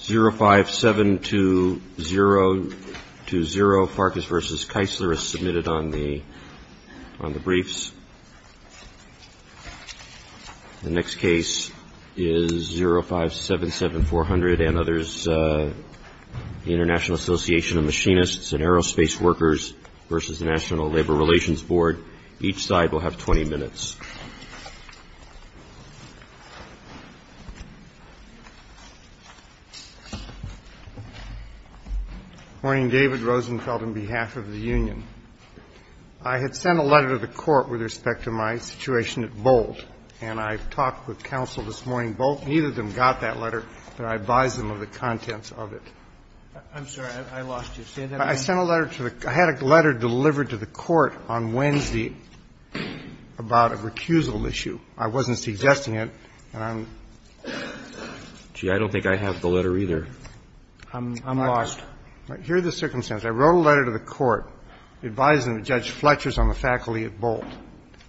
0572020 Farkas v. Keisler is submitted on the briefs. The next case is 0577400 and others, the International Association of Machinists and Aerospace Workers v. the National Labor Relations Board. Each side will have 20 minutes. Mr. Rosenfeld, on behalf of the Union, I had sent a letter to the Court with respect to my situation at Bolt, and I talked with counsel this morning. Neither of them got that letter, but I advise them of the contents of it. I'm sorry. I lost you. Stand up again. I sent a letter to the — I had a letter delivered to the Court on Wednesday about a recusal issue. I wasn't suggesting it, and I'm — Gee, I don't think I have the letter either. I'm lost. Here are the circumstances. I wrote a letter to the Court advising Judge Fletcher's on the faculty at Bolt.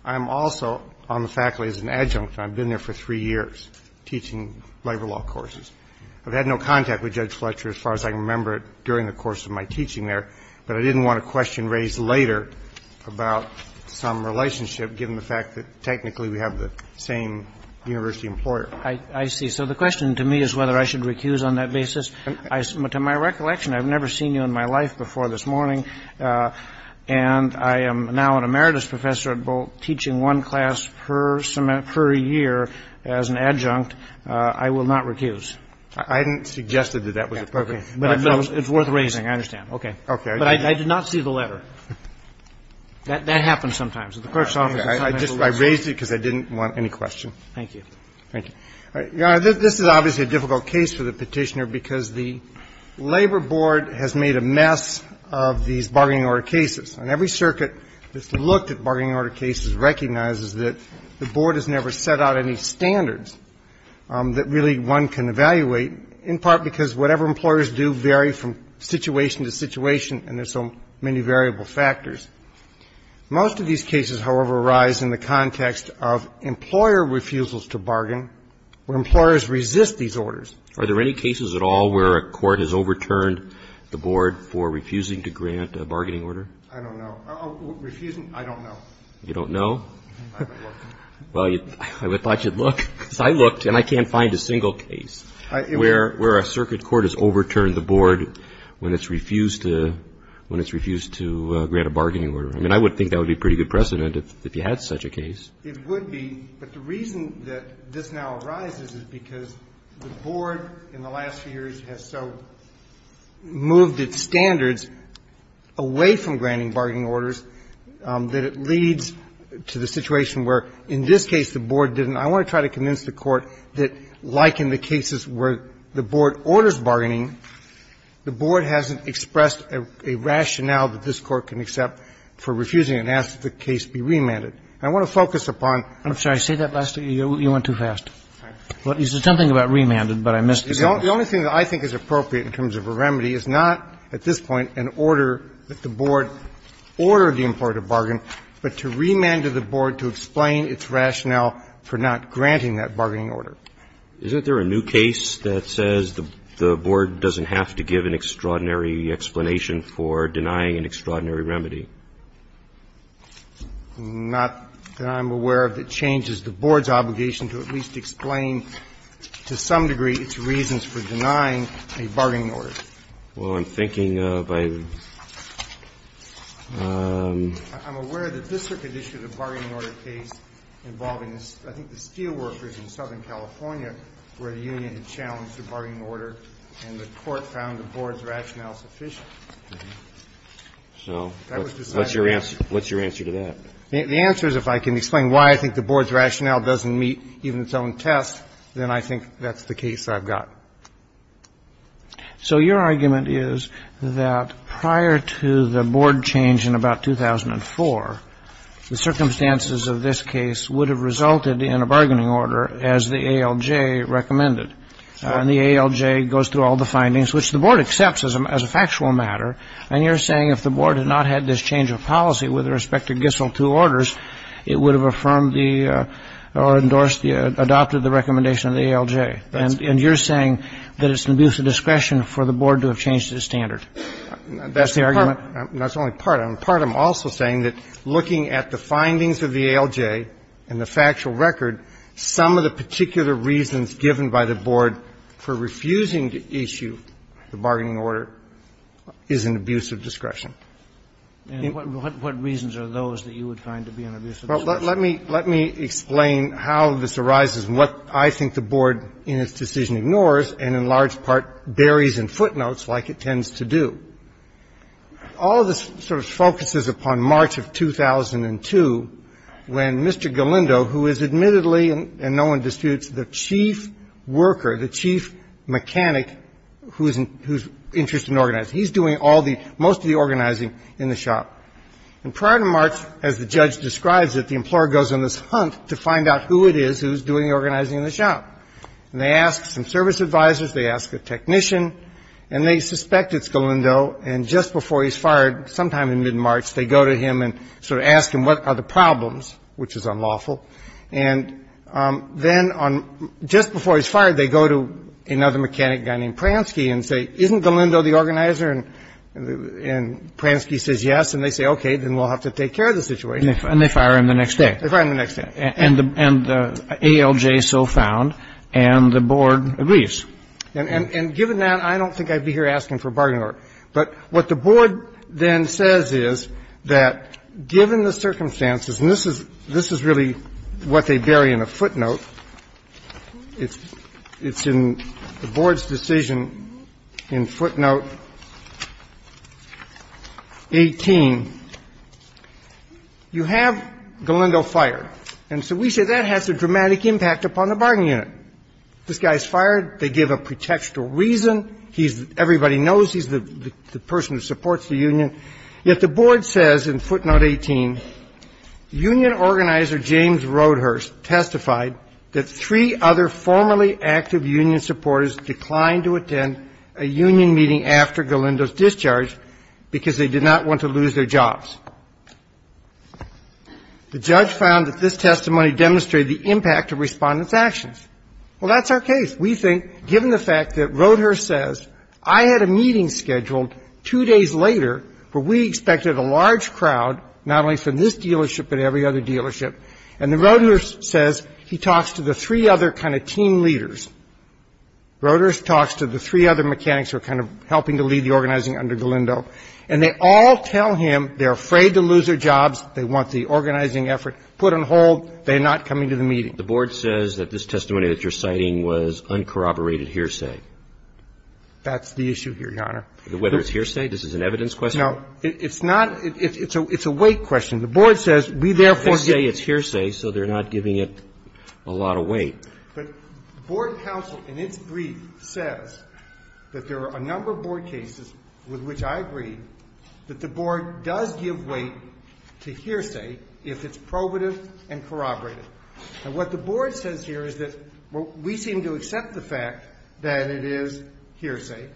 I'm also on the faculty as an adjunct, and I've been there for three years teaching labor law courses. I've had no contact with Judge Fletcher as far as I can remember during the course of my teaching there, but I didn't want a question raised later about some relationship given the fact that technically we have the same university employer. I see. So the question to me is whether I should recuse on that basis. To my recollection, I've never seen you in my life before this morning, and I am now an emeritus professor at Bolt teaching one class per year as an adjunct. And I will not recuse. I hadn't suggested that that was appropriate. But it's worth raising, I understand. Okay. Okay. But I did not see the letter. That happens sometimes at the court's office. I raised it because I didn't want any question. Thank you. Thank you. Your Honor, this is obviously a difficult case for the Petitioner because the Labor Board has made a mess of these bargaining order cases. And every circuit that's looked at bargaining order cases recognizes that the Board has never set out any standards that really one can evaluate, in part because whatever employers do vary from situation to situation, and there's so many variable factors. Most of these cases, however, arise in the context of employer refusals to bargain where employers resist these orders. Are there any cases at all where a court has overturned the Board for refusing to grant a bargaining order? I don't know. Refusing? I don't know. You don't know? I haven't looked. Well, I thought you'd look, because I looked and I can't find a single case where a circuit court has overturned the Board when it's refused to grant a bargaining order. I mean, I would think that would be pretty good precedent if you had such a case. It would be, but the reason that this now arises is because the Board in the last few years has so moved its standards away from granting bargaining orders that it leads to the situation where in this case the Board didn't. I want to try to convince the Court that, like in the cases where the Board orders bargaining, the Board hasn't expressed a rationale that this Court can accept for refusing and asked that the case be remanded. And I want to focus upon the fact that the Board has so moved its standards away from remanded the Board to explain its rationale for not granting that bargaining order. Isn't there a new case that says the Board doesn't have to give an extraordinary explanation for denying an extraordinary remedy? Not that I'm aware of that changes the Board's obligation to at least explain to some degree its reasons for denying a bargaining order. Well, I'm thinking of a ---- I'm aware that this Circuit issued a bargaining order case involving, I think, the steel workers in Southern California where the union had challenged the bargaining order and the Court found the Board's rationale sufficient. So what's your answer to that? The answer is if I can explain why I think the Board's rationale doesn't meet even its own test, then I think that's the case I've got. So your argument is that prior to the Board change in about 2004, the circumstances of this case would have resulted in a bargaining order as the ALJ recommended. And the ALJ goes through all the findings, which the Board accepts as a factual matter, and you're saying if the Board had not had this change of policy with respect to Gissel II orders, it would have affirmed the or endorsed the adopted the recommendation of the ALJ. And you're saying that it's an abuse of discretion for the Board to have changed its standard. That's the argument. That's only part of it. Part of it, I'm also saying that looking at the findings of the ALJ and the factual record, some of the particular reasons given by the Board for refusing to issue the bargaining order is an abuse of discretion. Well, let me explain how this arises and what I think the Board in its decision ignores and in large part buries in footnotes like it tends to do. All of this sort of focuses upon March of 2002 when Mr. Galindo, who is admittedly and no one disputes the chief worker, the chief mechanic who's interested in organizing, he's doing all the – most of the organizing in the shop. And prior to March, as the judge describes it, the employer goes on this hunt to find out who it is who's doing the organizing in the shop. And they ask some service advisors. They ask a technician. And they suspect it's Galindo. And just before he's fired sometime in mid-March, they go to him and sort of ask him, what are the problems, which is unlawful. And then on – just before he's fired, they go to another mechanic guy named Pransky and say, isn't Galindo the organizer? And Pransky says yes, and they say, okay, then we'll have to take care of the situation. And they fire him the next day. They fire him the next day. And the ALJ is still found, and the Board agrees. And given that, I don't think I'd be here asking for a bargaining order. But what the Board then says is that given the circumstances, and this is really what they bury in a footnote. It's in the Board's decision in footnote 18. You have Galindo fired. And so we say that has a dramatic impact upon the bargaining unit. This guy's fired. They give a pretextual reason. He's – everybody knows he's the person who supports the union. Yet the Board says in footnote 18, union organizer James Roadhurst testified that three other formerly active union supporters declined to attend a union meeting after Galindo's discharge because they did not want to lose their jobs. The judge found that this testimony demonstrated the impact of Respondent's actions. Well, that's our case. We think, given the fact that Roadhurst says, I had a meeting scheduled two days later, where we expected a large crowd, not only from this dealership but every other dealership. And then Roadhurst says, he talks to the three other kind of team leaders. Roadhurst talks to the three other mechanics who are kind of helping to lead the organizing under Galindo. And they all tell him they're afraid to lose their jobs. They want the organizing effort put on hold. They're not coming to the meeting. The Board says that this testimony that you're citing was uncorroborated hearsay. That's the issue here, Your Honor. Whether it's hearsay? This is an evidence question? No. It's not. It's a weight question. The Board says, we therefore say it's hearsay, so they're not giving it a lot of weight. But Board counsel in its brief says that there are a number of Board cases with which I agree that the Board does give weight to hearsay if it's probative and corroborated. And what the Board says here is that we seem to accept the fact that it is hearsay.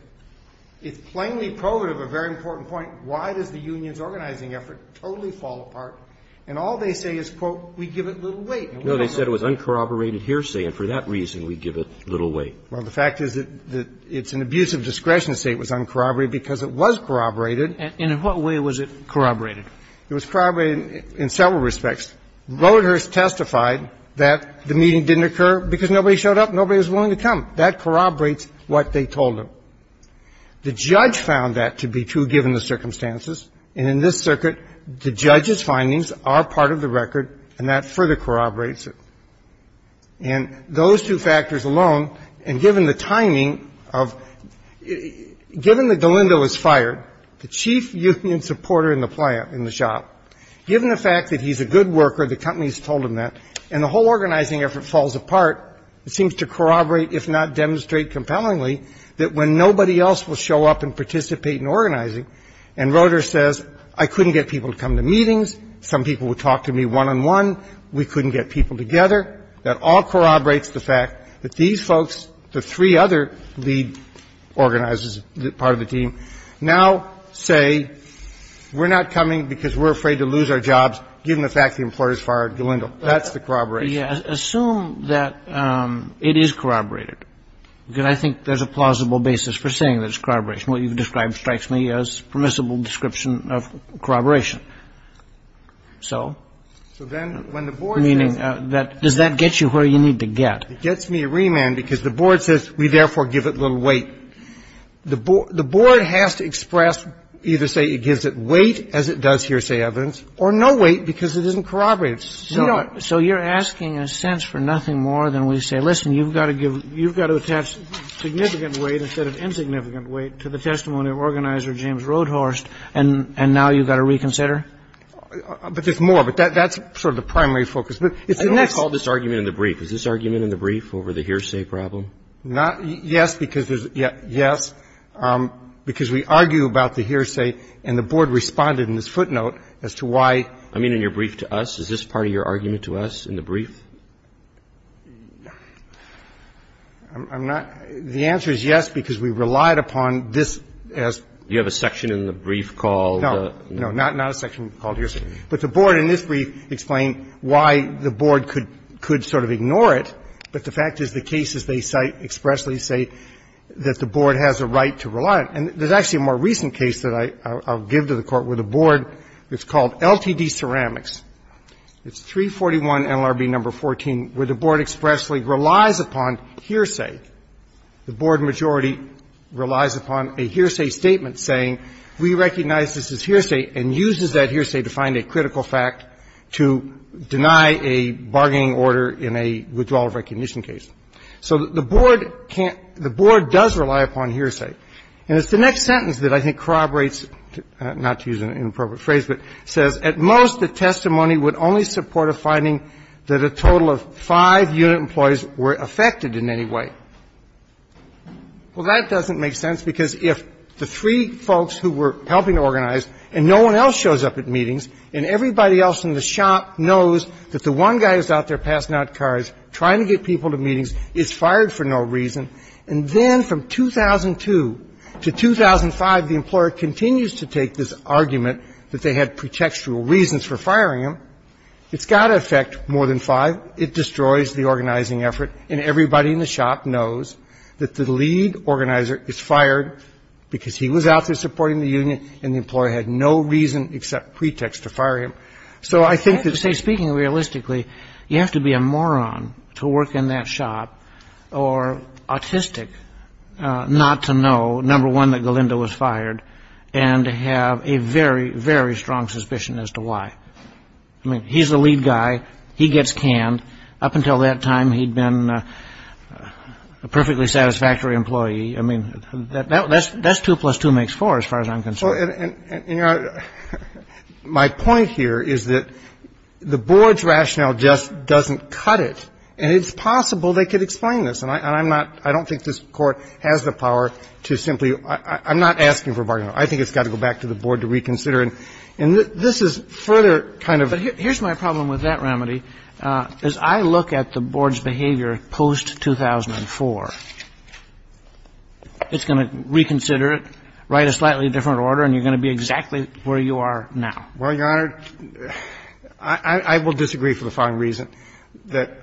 It's plainly probative, a very important point. Why does the union's organizing effort totally fall apart? And all they say is, quote, we give it little weight. No, they said it was uncorroborated hearsay, and for that reason we give it little weight. Well, the fact is that it's an abuse of discretion to say it was uncorroborated because it was corroborated. And in what way was it corroborated? It was corroborated in several respects. Roadhurst testified that the meeting didn't occur because nobody showed up, nobody was willing to come. That corroborates what they told him. The judge found that to be true, given the circumstances. And in this circuit, the judge's findings are part of the record, and that further corroborates it. And those two factors alone, and given the timing of the – given that Galindo was fired, the chief union supporter in the shop, given the fact that he's a good worker, the company's told him that. And the whole organizing effort falls apart. It seems to corroborate, if not demonstrate compellingly, that when nobody else will show up and participate in organizing, and Roadhurst says, I couldn't get people to come to meetings, some people would talk to me one-on-one, we couldn't get people together, that all corroborates the fact that these folks, the three other lead organizers, part of the team, now say we're not coming because we're afraid to lose our jobs, given the fact the employer's fired Galindo. That's the corroboration. Kennedy. Assume that it is corroborated, because I think there's a plausible basis for saying there's corroboration. What you've described strikes me as permissible description of corroboration. So, meaning, does that get you where you need to get? It gets me remand, because the board says, we therefore give it little weight. The board has to express, either say it gives it weight, as it does hearsay evidence, or no weight, because it isn't corroborated. So you're asking, in a sense, for nothing more than we say, listen, you've got to give you've got to attach significant weight instead of insignificant weight to the testimony of organizer James Roadhurst, and now you've got to reconsider? But there's more. But that's sort of the primary focus. It's the next. I don't recall this argument in the brief. Is this argument in the brief over the hearsay problem? Yes, because there's yes, because we argue about the hearsay, and the board responded in this footnote as to why. I mean in your brief to us. Is this part of your argument to us in the brief? I'm not. The answer is yes, because we relied upon this as. You have a section in the brief called. No, no, not a section called hearsay. But the board in this brief explained why the board could sort of ignore it, but the fact is the cases they cite expressly say that the board has a right to rely on it. And there's actually a more recent case that I'll give to the Court where the board that's called LTD Ceramics, it's 341 NLRB number 14, where the board expressly relies upon hearsay. The board majority relies upon a hearsay statement saying we recognize this as hearsay and uses that hearsay to find a critical fact to deny a bargaining order in a withdrawal of recognition case. So the board can't – the board does rely upon hearsay. And it's the next sentence that I think corroborates, not to use an inappropriate phrase, but says at most the testimony would only support a finding that a total of five unit employees were affected in any way. Well, that doesn't make sense, because if the three folks who were helping organize and no one else shows up at meetings and everybody else in the shop knows that the one guy who's out there passing out cards trying to get people to meetings is fired for no reason, and then from 2002 to 2005, the employer continues to take this argument that they had pretextual reasons for firing him, it's got to affect more than five. It destroys the organizing effort. And everybody in the shop knows that the lead organizer is fired because he was out there supporting the union and the employer had no reason except pretext to fire him. So I think that's – I think it's even more autistic not to know, number one, that Galindo was fired, and to have a very, very strong suspicion as to why. I mean, he's the lead guy. He gets canned. Up until that time, he'd been a perfectly satisfactory employee. I mean, that's two plus two makes four as far as I'm concerned. My point here is that the board's rationale just doesn't cut it. And it's possible they could explain this. And I'm not – I don't think this Court has the power to simply – I'm not asking for a bargain. I think it's got to go back to the board to reconsider. And this is further kind of – But here's my problem with that remedy. As I look at the board's behavior post-2004, it's going to reconsider it, write a slightly different order, and you're going to be exactly where you are now. Well, Your Honor, I will disagree for the following reason, that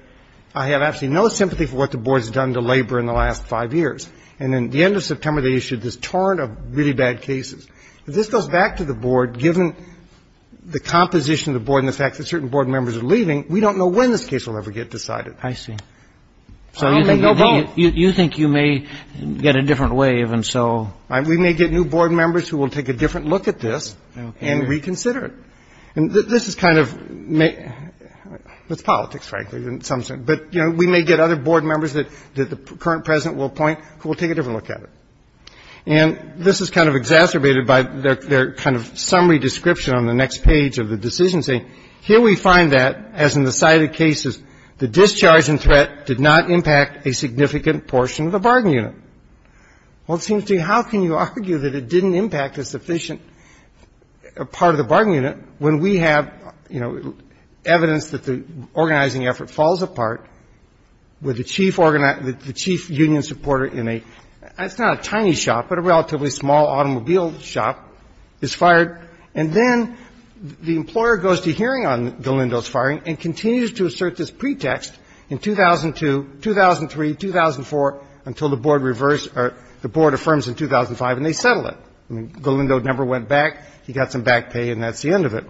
I have absolutely no sympathy for what the board's done to labor in the last five years. And at the end of September, they issued this torrent of really bad cases. If this goes back to the board, given the composition of the board and the fact that certain board members are leaving, we don't know when this case will ever get decided. I see. So you think you may get a different wave, and so – We may get new board members who will take a different look at this and reconsider it. And this is kind of – it's politics, frankly, in some sense. But, you know, we may get other board members that the current President will appoint who will take a different look at it. And this is kind of exacerbated by their kind of summary description on the next page of the decision saying, here we find that, as in the cited cases, the discharge and threat did not impact a significant portion of the bargain unit. Well, it seems to me, how can you argue that it didn't impact a sufficient part of the bargain unit when we have, you know, evidence that the organizing effort falls apart with the chief union supporter in a – it's not a tiny shop, but a relatively small automobile shop is fired, and then the employer goes to hearing on the Lindos firing and continues to assert this pretext in 2002, 2003, 2004, until the board reversed or the board affirms in 2005, and they settle it. I mean, the Lindo number went back. He got some back pay, and that's the end of it.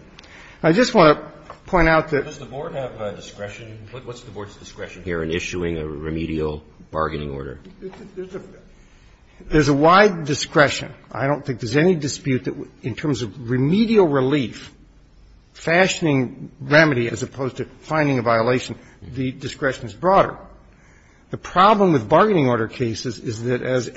I just want to point out that – Does the board have discretion? What's the board's discretion here in issuing a remedial bargaining order? There's a wide discretion. I don't think there's any dispute that in terms of remedial relief, fashioning a remedy as opposed to finding a violation, the discretion is broader. The problem with bargaining order cases is that, as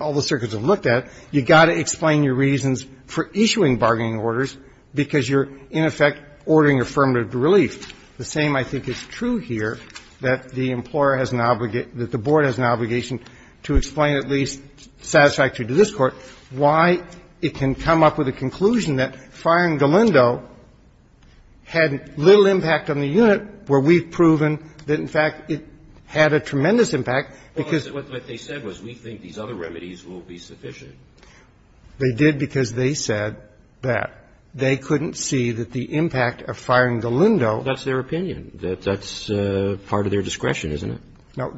all the circuits have looked at, you've got to explain your reasons for issuing bargaining orders because you're, in effect, ordering affirmative relief. The same, I think, is true here, that the employer has an – that the board has an obligation to explain at least satisfactorily to this Court why it can come up with the conclusion that firing the Lindo had little impact on the unit, where we've proven that, in fact, it had a tremendous impact, because – Well, what they said was we think these other remedies will be sufficient. They did because they said that. They couldn't see that the impact of firing the Lindo – That's their opinion. That's part of their discretion, isn't it? No.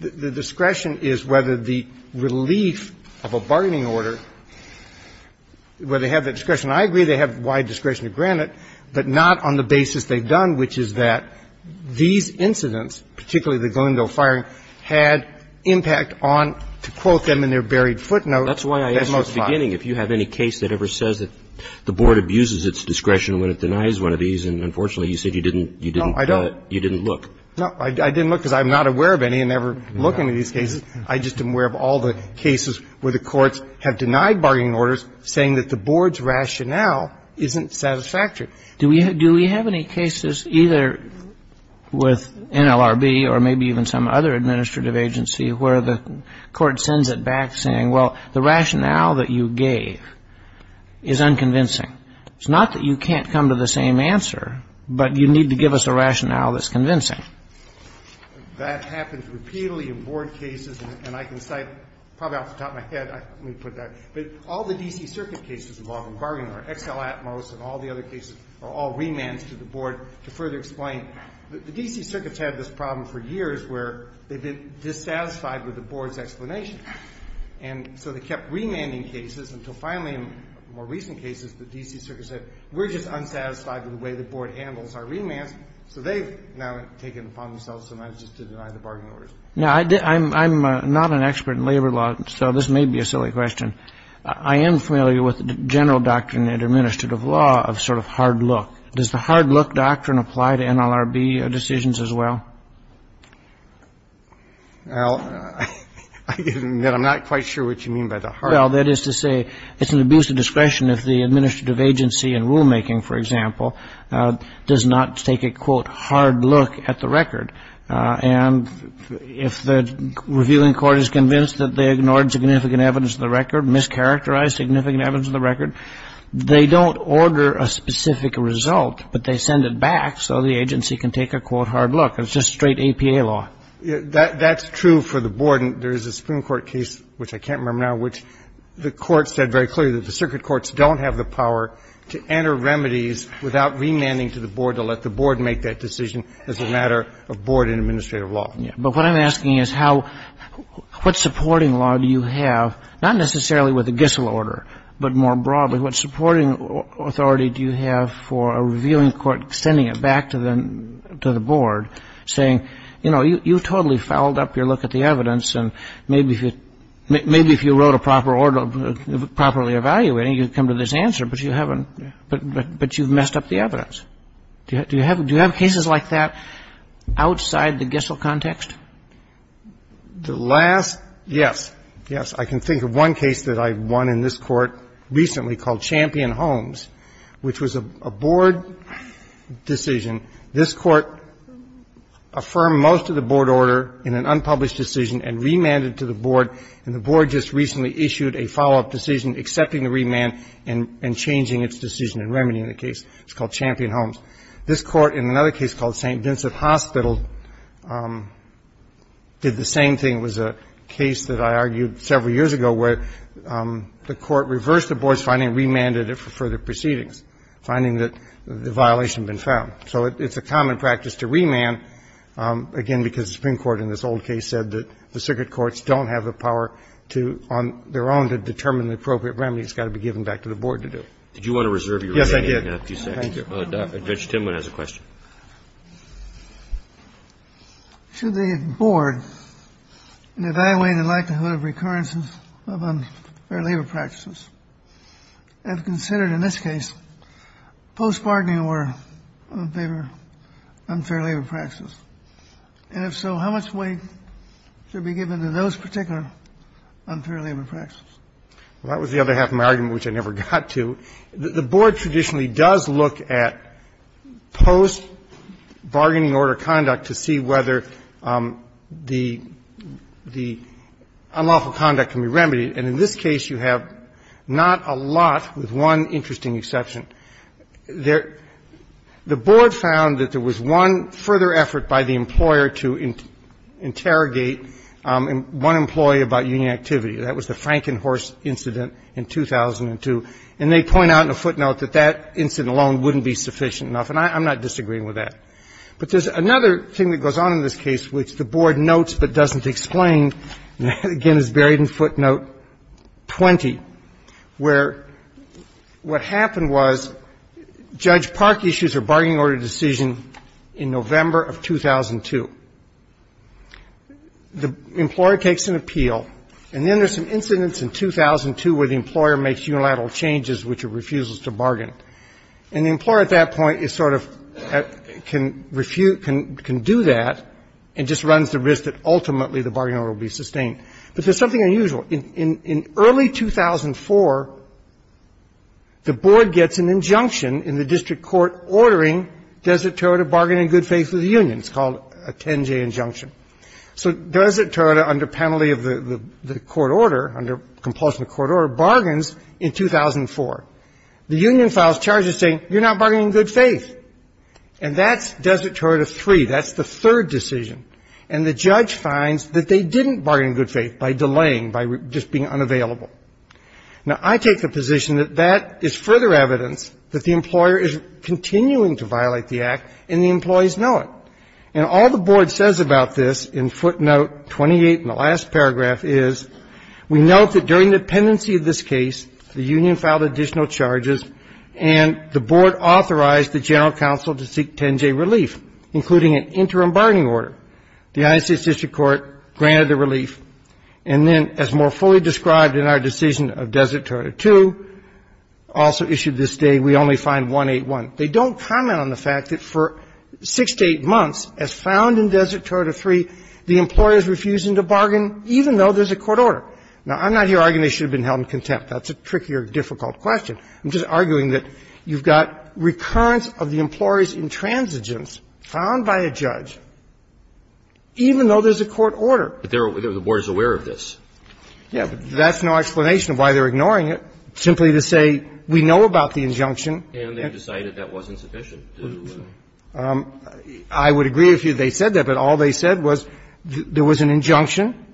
The discretion is whether the relief of a bargaining order, where they have the discretion – I agree they have wide discretion to grant it, but not on the basis they've done, which is that these incidents, particularly the Lindo firing, had impact on, to quote them in their buried footnote, that most likely – That's why I asked you at the beginning if you have any case that ever says that the board abuses its discretion when it denies one of these, and unfortunately you said you didn't – you didn't – No, I don't. You didn't look. No, I didn't look because I'm not aware of any and never look into these cases. I just am aware of all the cases where the courts have denied bargaining orders saying that the board's rationale isn't satisfactory. Do we have any cases either with NLRB or maybe even some other administrative agency where the court sends it back saying, well, the rationale that you gave is unconvincing? It's not that you can't come to the same answer, but you need to give us a rationale that's convincing. That happens repeatedly in board cases, and I can cite probably off the top of my head, let me put that, but all the D.C. Circuit cases involving bargaining order, XL Atmos and all the other cases are all remands to the board to further explain. The D.C. Circuit's had this problem for years where they've been dissatisfied with the board's explanation. And so they kept remanding cases until finally in more recent cases the D.C. Circuit said, we're just unsatisfied with the way the board handles our remands, so they've now taken it upon themselves sometimes just to deny the bargaining orders. Now, I'm not an expert in labor law, so this may be a silly question. I am familiar with the general doctrine in administrative law of sort of hard look. Does the hard look doctrine apply to NLRB decisions as well? Well, I'm not quite sure what you mean by the hard look. Well, that is to say it's an abuse of discretion if the administrative agency in rulemaking, for example, does not take a, quote, hard look at the record. And if the reviewing court is convinced that they ignored significant evidence of the record, mischaracterized significant evidence of the record, they don't order a specific result, but they send it back so the agency can take a, quote, hard look. It's just straight APA law. That's true for the board. And there is a Supreme Court case, which I can't remember now, which the Court said very clearly that the circuit courts don't have the power to enter remedies without remanding to the board to let the board make that decision as a matter of board and administrative law. Yeah. But what I'm asking is how — what supporting law do you have, not necessarily with the Gissel order, but more broadly, what supporting authority do you have for a reviewing court sending it back to the — to the board saying, you know, you totally fouled up your look at the evidence, and maybe if you — maybe if you wrote a proper order properly evaluating, you'd come to this answer, but you haven't — but you've messed up the evidence? Do you have cases like that outside the Gissel context? The last — yes. Yes. I can think of one case that I won in this Court recently called Champion-Holmes, which was a board decision. This Court affirmed most of the board order in an unpublished decision and remanded it to the board, and the board just recently issued a follow-up decision accepting the remand and changing its decision in remedying the case. It's called Champion-Holmes. This Court, in another case called St. Vincent Hospital, did the same thing. It was a case that I argued several years ago where the Court reversed the board's finding and remanded it for further proceedings, finding that the violation had been found. So it's a common practice to remand, again, because the Supreme Court in this old case said that the circuit courts don't have the power to, on their own, to determine the appropriate remedy. It's got to be given back to the board to do. Did you want to reserve your remand? Yes, I did. Thank you. Judge Timwin has a question. Should the board evaluate the likelihood of recurrences of unfair labor practices? As considered in this case, post-pardoning were unfair labor practices. And if so, how much weight should be given to those particular unfair labor practices? Well, that was the other half of my argument, which I never got to. The board traditionally does look at post-bargaining order conduct to see whether the unlawful conduct can be remedied. And in this case, you have not a lot, with one interesting exception. The board found that there was one further effort by the employer to interrogate one employee about union activity. That was the Frankenhorst incident in 2002. And they point out in a footnote that that incident alone wouldn't be sufficient enough, and I'm not disagreeing with that. But there's another thing that goes on in this case which the board notes but doesn't explain, and again is buried in footnote 20, where what happened was Judge Park issues her bargaining order decision in November of 2002. The employer takes an appeal, and then there's some incidents in 2002 where the employer makes unilateral changes which are refusals to bargain. And the employer at that point is sort of can do that and just runs the risk that the bargain order will be sustained. But there's something unusual. In early 2004, the board gets an injunction in the district court ordering Desert Toronto bargain in good faith with the union. It's called a 10-J injunction. So Desert Toronto, under penalty of the court order, under compulsion of the court order, bargains in 2004. The union files charges saying you're not bargaining in good faith. And that's Desert Toronto 3. That's the third decision. And the judge finds that they didn't bargain in good faith by delaying, by just being unavailable. Now, I take the position that that is further evidence that the employer is continuing to violate the Act, and the employees know it. And all the board says about this in footnote 28 in the last paragraph is we note that during the pendency of this case, the union filed additional charges, and the board The United States District Court granted the relief. And then, as more fully described in our decision of Desert Toronto 2, also issued this day, we only find 181. They don't comment on the fact that for six to eight months, as found in Desert Toronto 3, the employer is refusing to bargain, even though there's a court order. Now, I'm not here arguing they should have been held in contempt. That's a trickier, difficult question. I'm just arguing that you've got recurrence of the employer's intransigence found by a judge, even though there's a court order. But the board is aware of this. Yeah. But that's no explanation of why they're ignoring it. Simply to say we know about the injunction. And they decided that wasn't sufficient. I would agree if they said that. But all they said was there was an injunction.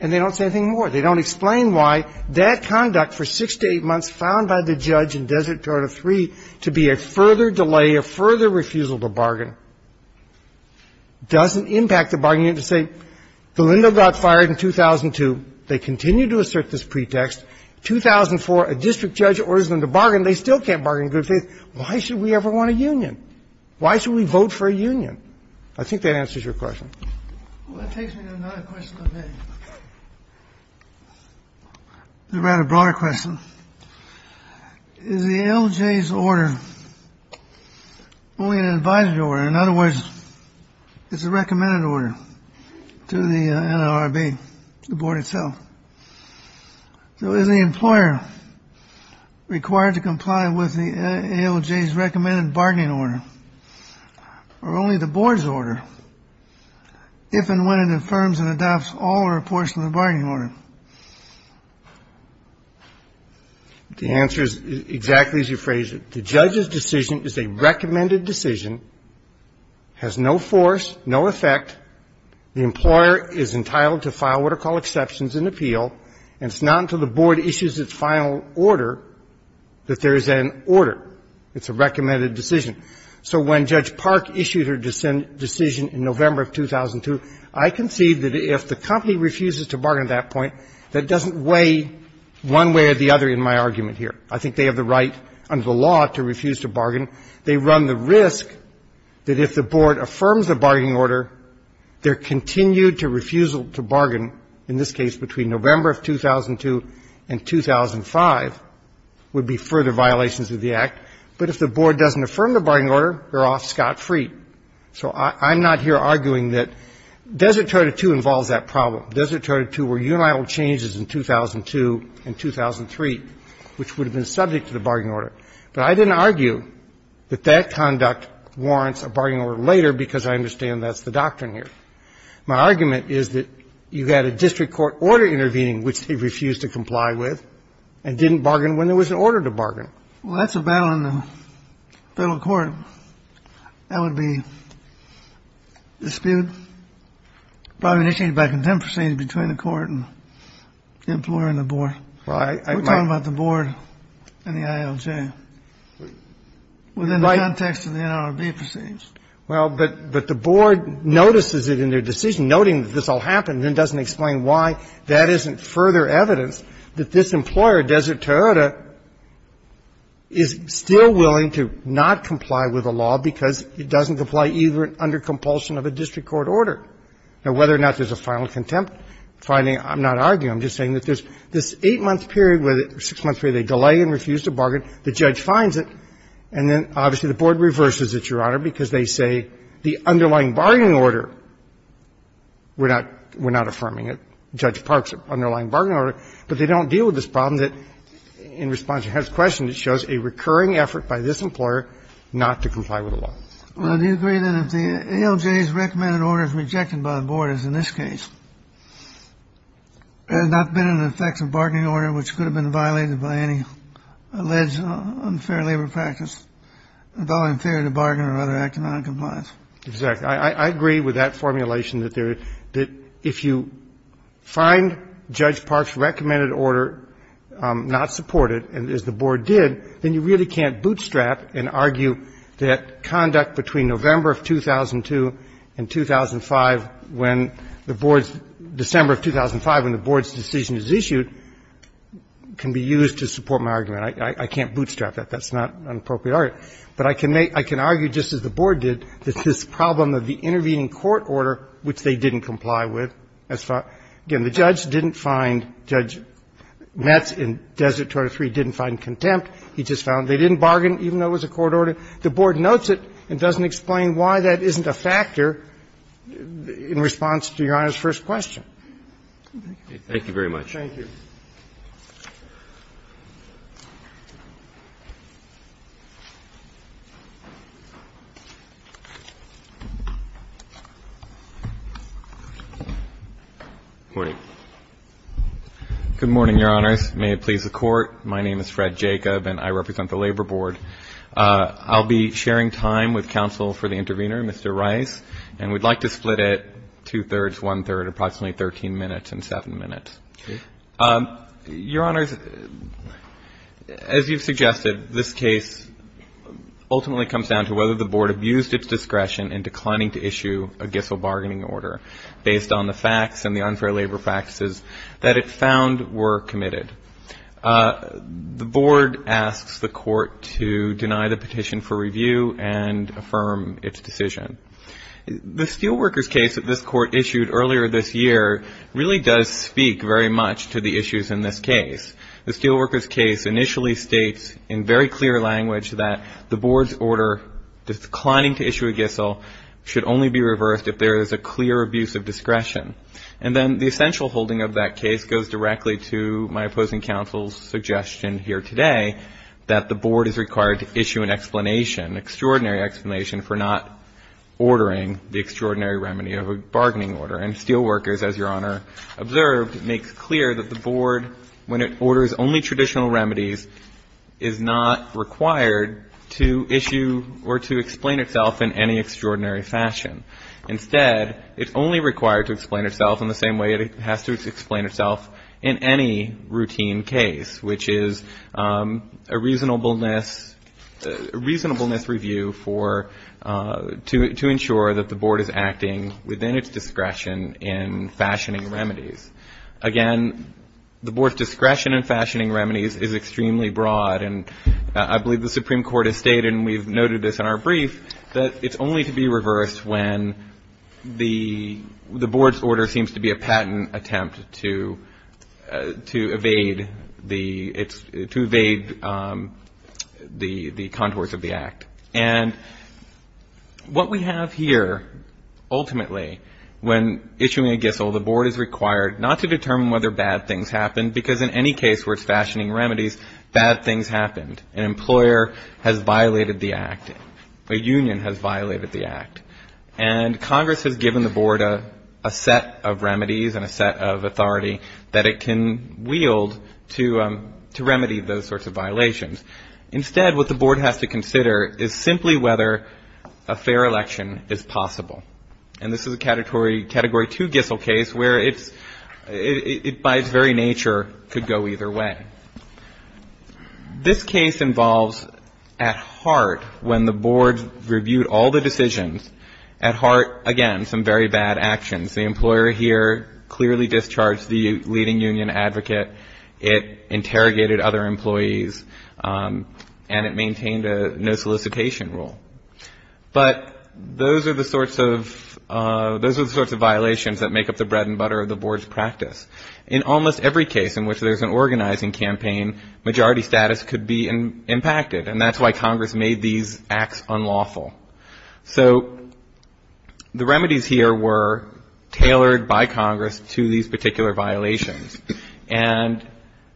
And they don't say anything more. They don't explain why that conduct for six to eight months found by the judge in Desert Toronto 3, the employer is refusing to bargain, doesn't impact the bargaining of the State. Galindo got fired in 2002. They continue to assert this pretext. 2004, a district judge orders them to bargain. They still can't bargain in good faith. Why should we ever want a union? Why should we vote for a union? I think that answers your question. Well, that takes me to another question of the day. A rather broader question. Is the ALJ's order only an advisory order? In other words, it's a recommended order to the NLRB, the board itself. So is the employer required to comply with the ALJ's recommended bargaining order? Or only the board's order? If and when it affirms and adopts all or a portion of the bargaining order? The answer is exactly as you phrased it. The judge's decision is a recommended decision, has no force, no effect. The employer is entitled to file what are called exceptions and appeal. And it's not until the board issues its final order that there is an order. It's a recommended decision. So when Judge Park issued her decision in November of 2002, I concede that if the company refuses to bargain at that point, that doesn't weigh one way or the other in my argument here. I think they have the right under the law to refuse to bargain. They run the risk that if the board affirms a bargaining order, their continued refusal to bargain, in this case between November of 2002 and 2005, would be further violations of the Act. But if the board doesn't affirm the bargaining order, they're off scot-free. So I'm not here arguing that Desert Charter II involves that problem. Desert Charter II were unilateral changes in 2002 and 2003, which would have been subject to the bargaining order. But I didn't argue that that conduct warrants a bargaining order later, because I understand that's the doctrine here. My argument is that you had a district court order intervening, which they refused to comply with and didn't bargain when there was an order to bargain. Well, that's a battle in the federal court. That would be disputed, probably initiated by contempt proceedings between the court and the employer and the board. Right. We're talking about the board and the ILJ within the context of the NRB proceedings. Well, but the board notices it in their decision, noting that this all happened, and then doesn't explain why. That isn't further evidence that this employer, Desert Charter, is still willing to not comply with the law because it doesn't comply either under compulsion of a district court order. Now, whether or not there's a final contempt finding, I'm not arguing. I'm just saying that there's this 8-month period where they delay and refuse to bargain. The judge finds it. And then, obviously, the board reverses it, Your Honor, because they say the underlying bargaining order, we're not affirming it. Judge Park's underlying bargaining order. But they don't deal with this problem that, in response to Herb's question, it shows a recurring effort by this employer not to comply with the law. Well, do you agree that if the ALJ's recommended order is rejected by the board, as in this case, there has not been an effective bargaining order which could have been violated by any alleged unfair labor practice, in theory, the bargain or other act of noncompliance? Exactly. I agree with that formulation that there are – that if you find Judge Park's recommended order not supported, and as the board did, then you really can't bootstrap and argue that conduct between November of 2002 and 2005, when the board's – December of 2005, when the board's decision is issued, can be used to support my argument. I can't bootstrap that. That's not an appropriate argument. But I can make – I can argue, just as the board did, that this problem of the intervening court order, which they didn't comply with, as far – again, the judge didn't find – Judge Metz in Desert 203 didn't find contempt. He just found they didn't bargain, even though it was a court order. The board notes it and doesn't explain why that isn't a factor in response to Your Honor's first question. Thank you. Thank you very much. Thank you. Good morning, Your Honors. May it please the Court, my name is Fred Jacob, and I represent the Labor Board. I'll be sharing time with counsel for the intervener, Mr. Rice, and we'd like to split it two-thirds, one-third, approximately 13 minutes and 7 minutes. Okay. Your Honors, as you've suggested, this case ultimately comes down to whether the board abused its discretion in declining to issue a Gissell bargaining order based on the facts and the unfair labor practices that it found were committed. The board asks the court to deny the petition for review and affirm its decision. The Steelworkers case that this Court issued earlier this year really does speak very much to the issues in this case. The Steelworkers case initially states in very clear language that the board's order declining to issue a Gissell should only be reversed if there is a clear abuse of discretion. And then the essential holding of that case goes directly to my opposing counsel's suggestion here today that the board is required to issue an explanation, an extraordinary explanation for not ordering the extraordinary remedy of a bargaining order. And Steelworkers, as Your Honor observed, makes clear that the board, when it orders only traditional remedies, is not required to issue or to explain itself in any extraordinary fashion. Instead, it's only required to explain itself in the same way it has to explain itself in any routine case, which is a reasonableness review to ensure that the board is acting within its discretion in fashioning remedies. Again, the board's discretion in fashioning remedies is extremely broad, and I believe the Supreme Court has stated, and we've noted this in our brief, that it's only to be reversed when the board's order seems to be a patent attempt to evade the contours of the act. And what we have here, ultimately, when issuing a Gissell, the board is required not to determine whether bad things happened, because in any case where it's fashioning remedies, bad things happened. An employer has violated the act. A union has violated the act. And Congress has given the board a set of remedies and a set of authority that it can wield to remedy those sorts of violations. Instead, what the board has to consider is simply whether a fair election is possible. And this is a Category 2 Gissell case where it, by its very nature, could go either way. This case involves, at heart, when the board reviewed all the decisions, at heart, again, some very bad actions. The employer here clearly discharged the leading union advocate. It interrogated other employees, and it maintained a no solicitation rule. But those are the sorts of violations that make up the bread and butter of the board's practice. In almost every case in which there's an organizing campaign, majority status could be impacted. And that's why Congress made these acts unlawful. So the remedies here were tailored by Congress to these particular violations. And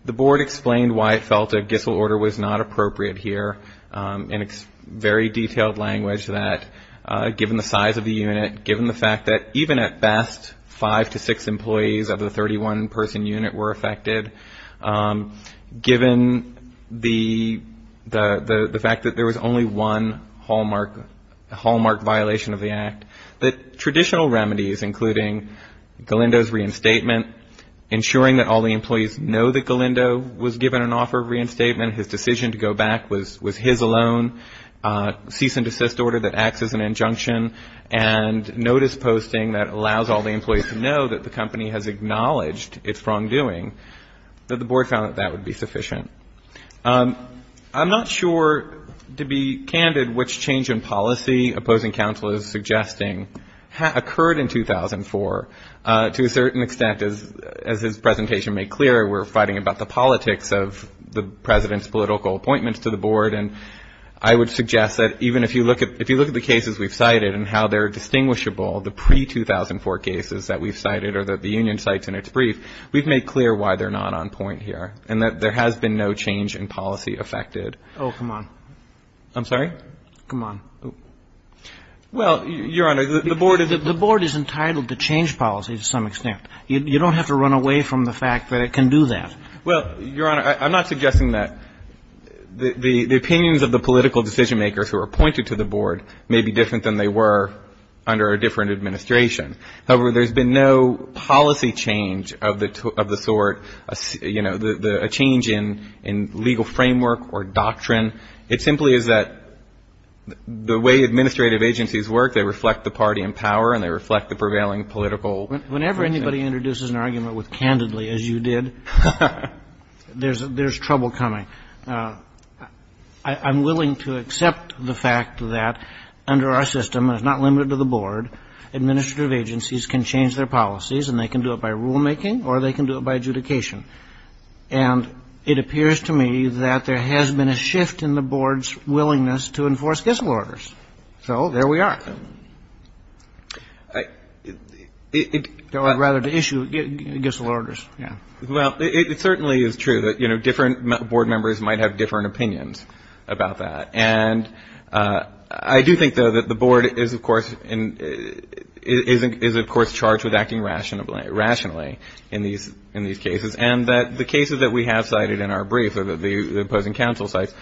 the board explained why it felt a Gissell order was not appropriate here. And it's very detailed language that, given the size of the unit, given the fact that even at best, five to six employees of the 31-person unit were affected, given the fact that there was only one hallmark violation of the act, that traditional remedies, including Galindo's reinstatement, ensuring that all the employees know that Galindo was given an offer of reinstatement, his decision to go back was his alone, cease and desist order that acts as an injunction, and notice posting that allows all the employees to know that the company has acknowledged its wrongdoing, that the board found that that would be sufficient. I'm not sure, to be candid, which change in policy opposing counsel is suggesting occurred in 2004. To a certain extent, as his presentation made clear, we're fighting about the politics of the president's political appointments to the board. And I would suggest that even if you look at the cases we've cited and how they're distinguishable, the pre-2004 cases that we've cited or that the union cites in its brief, we've made clear why they're not on point here and that there has been no change in policy affected. Oh, come on. I'm sorry? Come on. Well, Your Honor, the board is entitled to change policy to some extent. You don't have to run away from the fact that it can do that. Well, Your Honor, I'm not suggesting that the opinions of the political decision-makers who are appointed to the board may be different than they were under a different administration. However, there's been no policy change of the sort, you know, a change in legal framework or doctrine. It simply is that the way administrative agencies work, they reflect the party in power and they reflect the prevailing political. Whenever anybody introduces an argument with candidly, as you did, there's trouble coming. I'm willing to accept the fact that under our system, and it's not limited to the board, administrative agencies can change their policies and they can do it by rulemaking or they can do it by adjudication. And it appears to me that there has been a shift in the board's willingness to enforce Gissel orders. So there we are. Rather to issue Gissel orders. Yeah. Well, it certainly is true that, you know, different board members might have different opinions about that. And I do think, though, that the board is, of course, in — is, of course, charged with acting rationally in these cases and that the cases that we have cited in our brief or the opposing counsel cites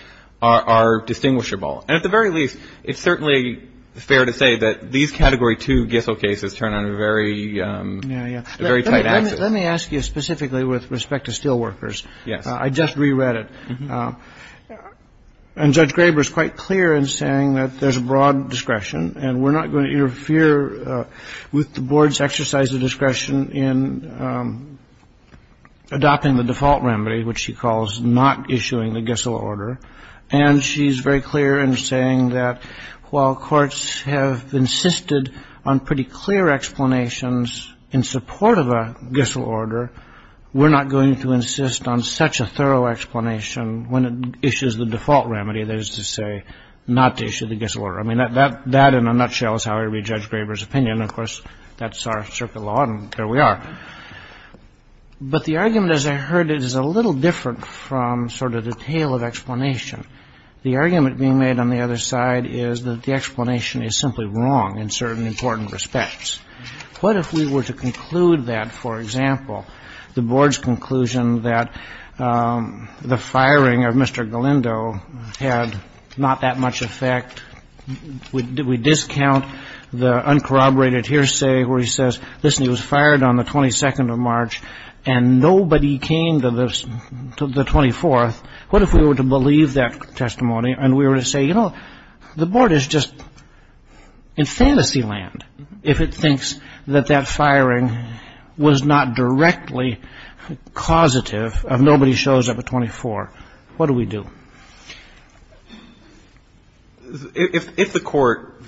are distinguishable. And at the very least, it's certainly fair to say that these Category 2 Gissel cases turn on a very — Yeah, yeah. — a very tight axis. Let me ask you specifically with respect to steelworkers. Yes. I just reread it. And Judge Graber is quite clear in saying that there's a broad discretion and we're not going to interfere with the board's exercise of discretion in adopting the default remedy, which she calls not issuing the Gissel order. And she's very clear in saying that while courts have insisted on pretty clear explanations in support of a Gissel order, we're not going to insist on such a thorough explanation when it issues the default remedy, that is to say, not to issue the Gissel order. I mean, that in a nutshell is how I read Judge Graber's opinion. Of course, that's our circuit law, and there we are. But the argument, as I heard it, is a little different from sort of the tale of explanation. The argument being made on the other side is that the explanation is simply wrong in certain important respects. What if we were to conclude that, for example, the board's conclusion that the firing of Mr. Galindo had not that much effect, we discount the uncorroborated hearsay where he says, listen, he was fired on the 22nd of March and nobody came to the 24th, what if we were to believe that testimony and we were to say, you know, the board is just in fantasy land if it thinks that that firing was not directly causative of nobody shows up at 24. What do we do? If the court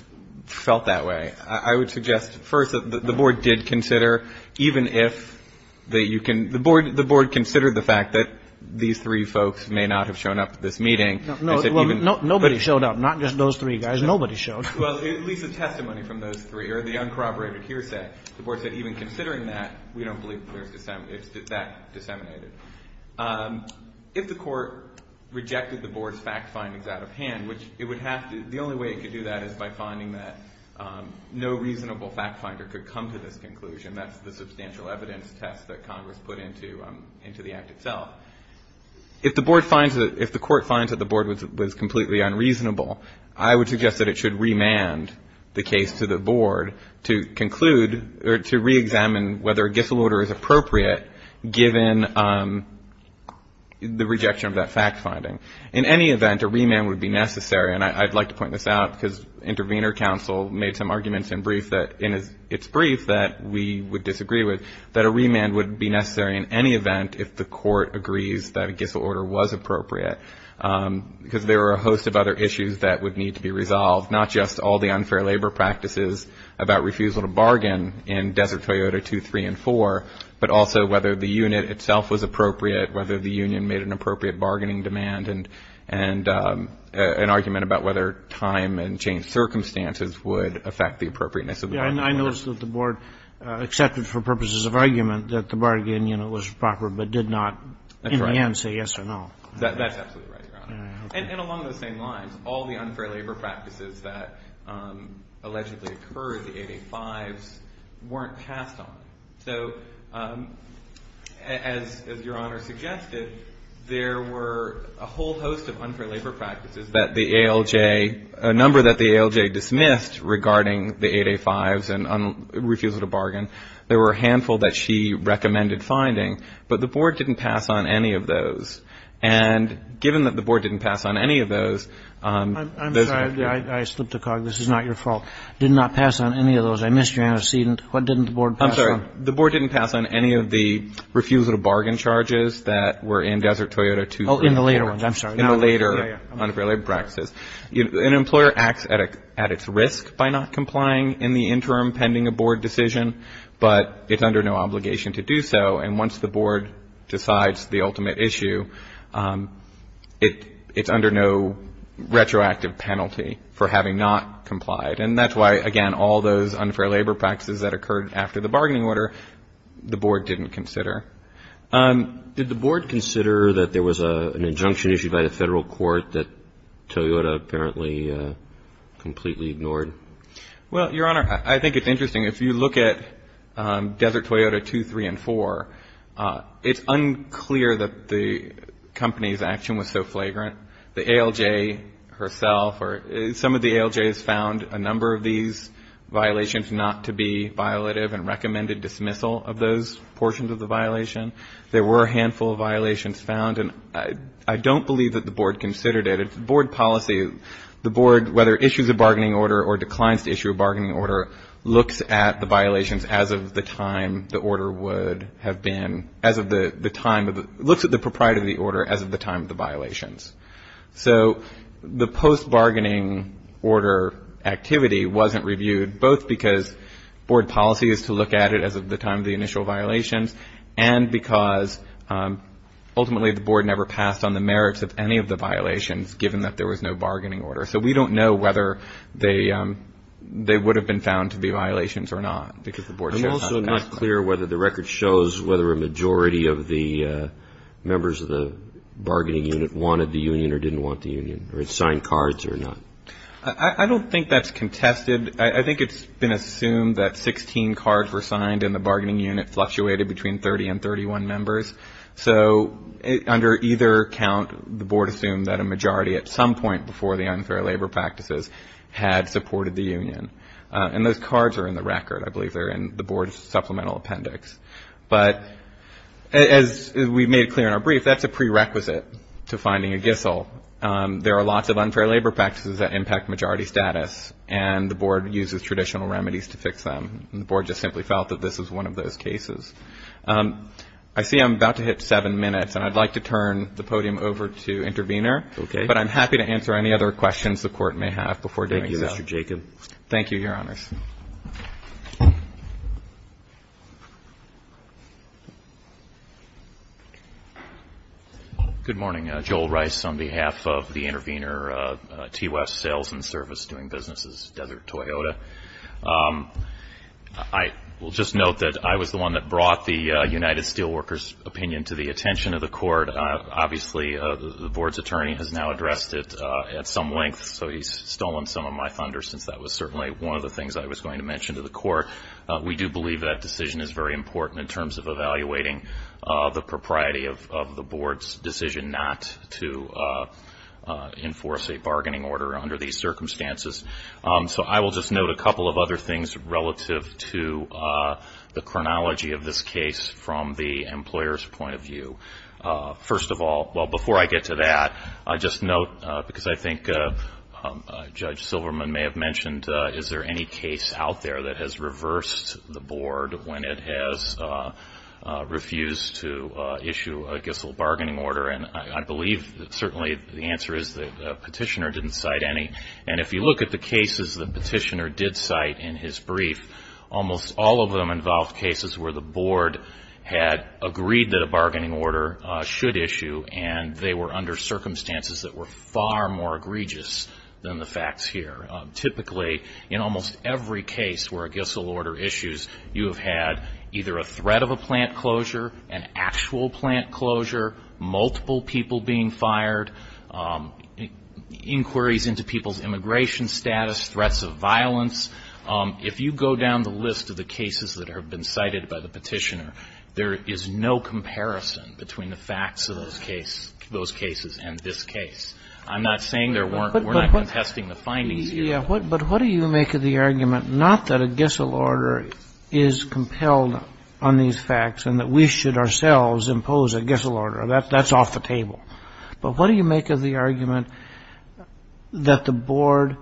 felt that way, I would suggest first that the board did consider, even if that you can the board, the board considered the fact that these three folks may not have shown up at this meeting. Nobody showed up. Not just those three guys. Nobody showed up. Well, at least the testimony from those three or the uncorroborated hearsay, the board said even considering that, we don't believe that that disseminated. If the court rejected the board's fact findings out of hand, which it would have to, the only way it could do that is by finding that no reasonable fact finder could come to this conclusion. That's the substantial evidence test that Congress put into the act itself. If the board finds that, if the court finds that the board was completely unreasonable, I would suggest that it should remand the case to the board to conclude or to reexamine whether a Gissel order is appropriate given the rejection of that fact finding. In any event, a remand would be necessary, and I'd like to point this out because Intervenor Council made some arguments in its brief that we would disagree with, that a remand would be necessary in any event if the court agrees that a Gissel order was appropriate. Because there are a host of other issues that would need to be resolved, not just all the unfair labor practices about refusal to bargain in Desert Toyota 2, 3, and 4, but also whether the unit itself was appropriate, whether the union made an appropriate bargaining demand, and an argument about whether time and changed circumstances would affect the appropriateness of the bargain. I noticed that the board accepted for purposes of argument that the bargain unit was proper, but did not in the end say yes or no. That's absolutely right, Your Honor. And along those same lines, all the unfair labor practices that allegedly occurred, the 8A-5s, weren't passed on. So as Your Honor suggested, there were a whole host of unfair labor practices that the ALJ, a number that the ALJ dismissed regarding the 8A-5s and refusal to bargain. There were a handful that she recommended finding, but the board didn't pass on any of those. And given that the board didn't pass on any of those. I'm sorry. I slipped a cog. This is not your fault. Did not pass on any of those. I missed you, Your Honor. What didn't the board pass on? I'm sorry. The board didn't pass on any of the refusal to bargain charges that were in Desert Toyota 2, 3, and 4. Oh, in the later ones. I'm sorry. In the later unfair labor practices. An employer acts at its risk by not complying in the interim pending a board decision, but it's under no obligation to do so. And once the board decides the ultimate issue, it's under no retroactive penalty for having not complied. And that's why, again, all those unfair labor practices that occurred after the bargaining order, the board didn't consider. Did the board consider that there was an injunction issued by the federal court that Toyota apparently completely ignored? Well, Your Honor, I think it's interesting. If you look at Desert Toyota 2, 3, and 4, it's unclear that the company's action was so flagrant. The ALJ herself or some of the ALJs found a number of these violations not to be violative and recommended dismissal of those portions of the violation. There were a handful of violations found, and I don't believe that the board considered it. The board, whether it issues a bargaining order or declines to issue a bargaining order, looks at the violations as of the time the order would have been, as of the time of the, looks at the propriety of the order as of the time of the violations. So the post-bargaining order activity wasn't reviewed, both because board policy is to look at it as of the time of the initial violations and because ultimately the board never passed on the merits of any of the violations, given that there was no bargaining order. So we don't know whether they would have been found to be violations or not. I'm also not clear whether the record shows whether a majority of the members of the bargaining unit wanted the union or didn't want the union or had signed cards or not. I don't think that's contested. I think it's been assumed that 16 cards were signed in the bargaining unit, fluctuated between 30 and 31 members. So under either count, the board assumed that a majority at some point before the unfair labor practices had supported the union. And those cards are in the record. I believe they're in the board's supplemental appendix. But as we made clear in our brief, that's a prerequisite to finding a GISL. There are lots of unfair labor practices that impact majority status, and the board uses traditional remedies to fix them. And the board just simply felt that this is one of those cases. I see I'm about to hit seven minutes, and I'd like to turn the podium over to Intervenor. Okay. But I'm happy to answer any other questions the Court may have before doing so. Thank you, Mr. Jacob. Thank you, Your Honors. Thanks. Good morning. Joel Rice on behalf of the Intervenor T. West Sales and Service Doing Businesses, Desert Toyota. I will just note that I was the one that brought the United Steelworkers' opinion to the attention of the Court. Obviously, the board's attorney has now addressed it at some length, so he's stolen some of my thunder since that was certainly one of the things I was going to mention to the Court. We do believe that decision is very important in terms of evaluating the propriety of the board's decision not to enforce a bargaining order under these circumstances. So I will just note a couple of other things relative to the chronology of this case from the employer's point of view. First of all, well, before I get to that, I'll just note, because I think Judge Silverman may have mentioned, is there any case out there that has reversed the board when it has refused to issue a Gissell bargaining order? And I believe that certainly the answer is the petitioner didn't cite any. And if you look at the cases the petitioner did cite in his brief, almost all of them involved cases where the board had agreed that a bargaining order should issue, and they were under circumstances that were far more egregious than the facts here. Typically, in almost every case where a Gissell order issues, you have had either a threat of a plant closure, an actual plant closure, multiple people being fired, inquiries into people's immigration status, threats of violence. If you go down the list of the cases that have been cited by the petitioner, there is no comparison between the facts of those cases and this case. I'm not saying there weren't. We're not contesting the findings here. But what do you make of the argument not that a Gissell order is compelled on these facts and that we should ourselves impose a Gissell order? That's off the table. But what do you make of the argument that the board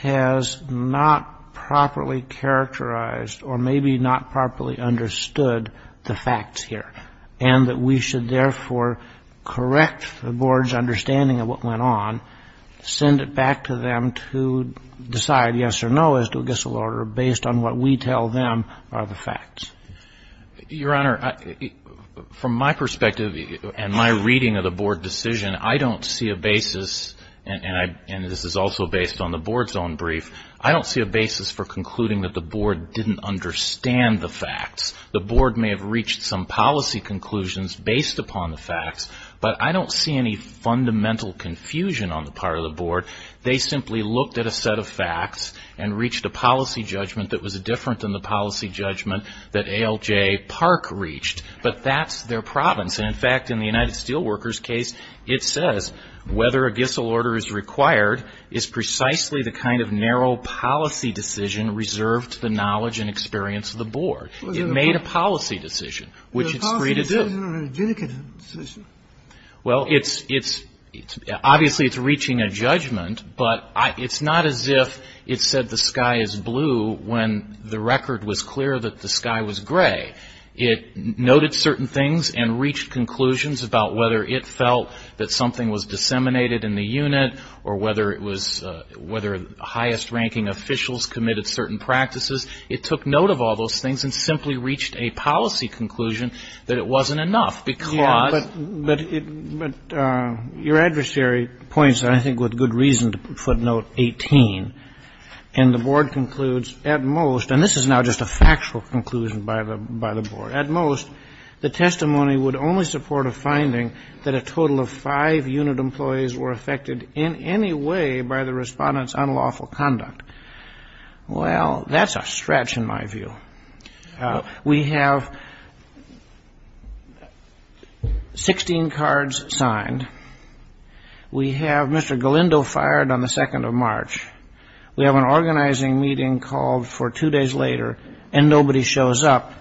has not properly characterized or maybe not properly understood the facts here and that we should therefore correct the board's understanding of what went on, send it back to them to decide yes or no as to a Gissell order based on what we tell them are the facts? Your Honor, from my perspective and my reading of the board decision, I don't see a basis, and this is also based on the board's own brief, I don't see a basis for concluding that the board didn't understand the facts. The board may have reached some policy conclusions based upon the facts, but I don't see any fundamental confusion on the part of the board. They simply looked at a set of facts and reached a policy judgment that was different than the policy judgment that ALJ Park reached. But that's their province. And, in fact, in the United Steelworkers case, it says whether a Gissell order is required is precisely the kind of narrow policy decision reserved to the knowledge and experience of the board. It made a policy decision, which it's free to do. Was it a policy decision or a judicative decision? Well, it's – obviously it's reaching a judgment, but it's not as if it said the sky is blue when the record was clear that the sky was gray. It noted certain things and reached conclusions about whether it felt that something was disseminated in the unit or whether it was – whether highest-ranking officials committed certain practices. It took note of all those things and simply reached a policy conclusion that it wasn't enough because – I think with good reason to footnote 18. And the board concludes, at most – and this is now just a factual conclusion by the board – at most, the testimony would only support a finding that a total of five unit employees were affected in any way by the Respondent's unlawful conduct. Well, that's a stretch in my view. We have 16 cards signed. We have Mr. Galindo fired on the 2nd of March. We have an organizing meeting called for two days later and nobody shows up.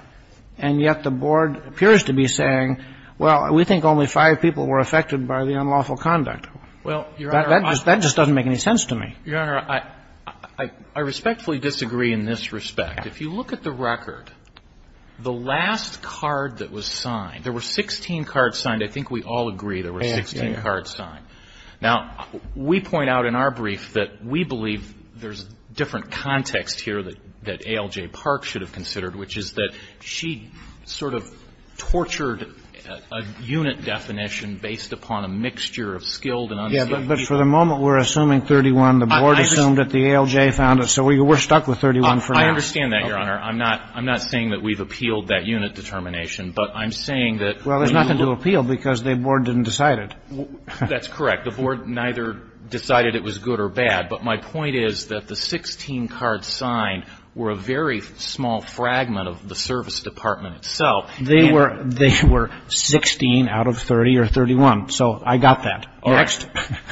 And yet the board appears to be saying, well, we think only five people were affected by the unlawful conduct. Well, Your Honor, I – That just doesn't make any sense to me. Your Honor, I respectfully disagree in this respect. If you look at the record, the last card that was signed – there were 16 cards signed. I think we all agree there were 16 cards signed. Now, we point out in our brief that we believe there's different context here that ALJ Park should have considered, which is that she sort of tortured a unit definition based upon a mixture of skilled and unskilled people. Yes, but for the moment, we're assuming 31. The board assumed that the ALJ found it. So we're stuck with 31 for now. I understand that, Your Honor. I'm not saying that we've appealed that unit determination, but I'm saying that – Well, there's nothing to appeal because the board didn't decide it. That's correct. The board neither decided it was good or bad. But my point is that the 16 cards signed were a very small fragment of the service department itself. They were 16 out of 30 or 31. So I got that. Next.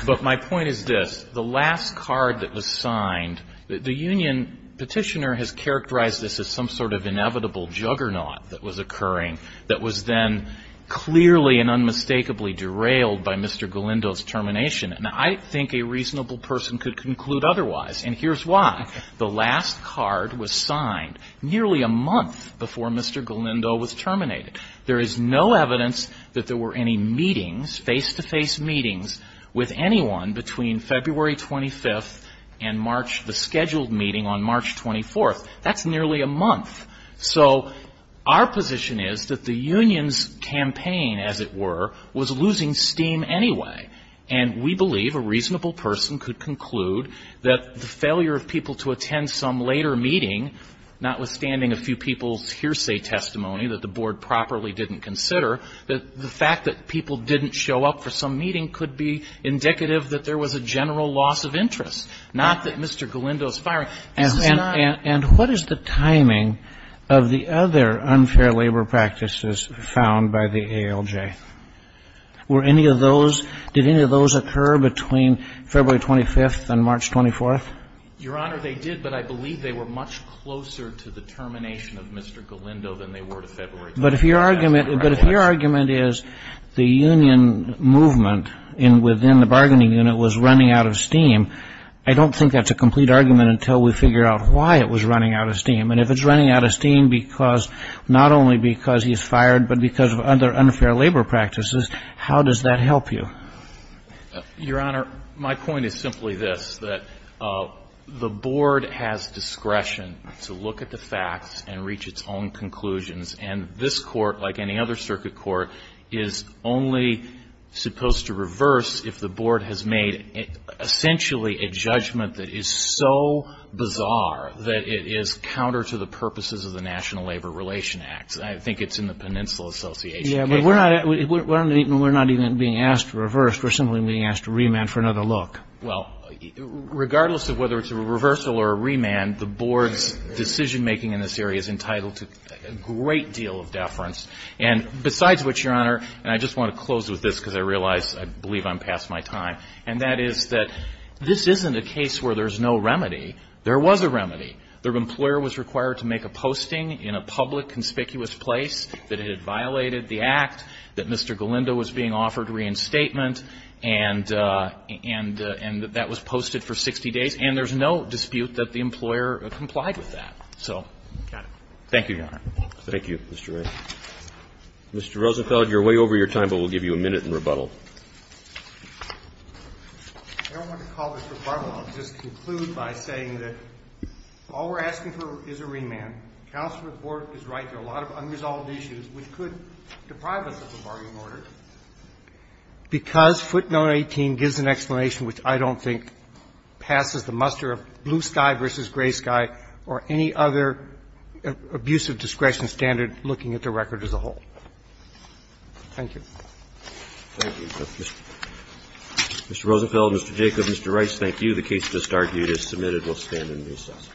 But my point is this. The last card that was signed, the union petitioner has characterized this as some sort of inevitable juggernaut that was occurring that was then clearly and unmistakably derailed by Mr. Galindo's termination. And I think a reasonable person could conclude otherwise. And here's why. The last card was signed nearly a month before Mr. Galindo was terminated. There is no evidence that there were any meetings, face-to-face meetings, with anyone between February 25th and March, the scheduled meeting on March 24th. That's nearly a month. So our position is that the union's campaign, as it were, was losing steam anyway. And we believe a reasonable person could conclude that the failure of people to attend some later meeting, notwithstanding a few people's hearsay testimony that the board properly didn't consider, that the fact that people didn't show up for some meeting could be indicative that there was a general loss of interest, not that Mr. Galindo's firing. And what is the timing of the other unfair labor practices found by the ALJ? Were any of those, did any of those occur between February 25th and March 24th? Your Honor, they did, but I believe they were much closer to the termination of Mr. Galindo than they were to February 25th. But if your argument is the union movement within the bargaining unit was running out of steam, I don't think that's a complete argument until we figure out why it was running out of steam. And if it's running out of steam because not only because he's fired, but because of other unfair labor practices, how does that help you? Your Honor, my point is simply this, that the board has discretion to look at the facts and reach its own conclusions. And this Court, like any other circuit court, is only supposed to reverse if the board has made essentially a judgment that is so bizarre that it is counter to the purposes of the National Labor Relations Act. I think it's in the Peninsula Association case. Yeah, but we're not even being asked to reverse. We're simply being asked to remand for another look. Well, regardless of whether it's a reversal or a remand, the board's decision-making in this area is entitled to a great deal of deference. And besides which, Your Honor, and I just want to close with this because I realize I believe I'm past my time, and that is that this isn't a case where there's no remedy. There was a remedy. The employer was required to make a posting in a public, conspicuous place that it had violated the Act, that Mr. Galindo was being offered reinstatement, and that was posted for 60 days, and there's no dispute that the employer complied with that. So thank you, Your Honor. Thank you, Mr. Wright. Mr. Rosenfeld, you're way over your time, but we'll give you a minute in rebuttal. I don't want to call this rebuttal. I'll just conclude by saying that all we're asking for is a remand. Counsel's report is right. There are a lot of unresolved issues which could deprive us of a bargaining order because footnote 18 gives an explanation which I don't think passes the muster of blue sky versus gray sky or any other abusive discretion standard looking at the record as a whole. Thank you. Thank you. Mr. Rosenfeld, Mr. Jacob, Mr. Rice, thank you. The case just argued is submitted. We'll stand in recess.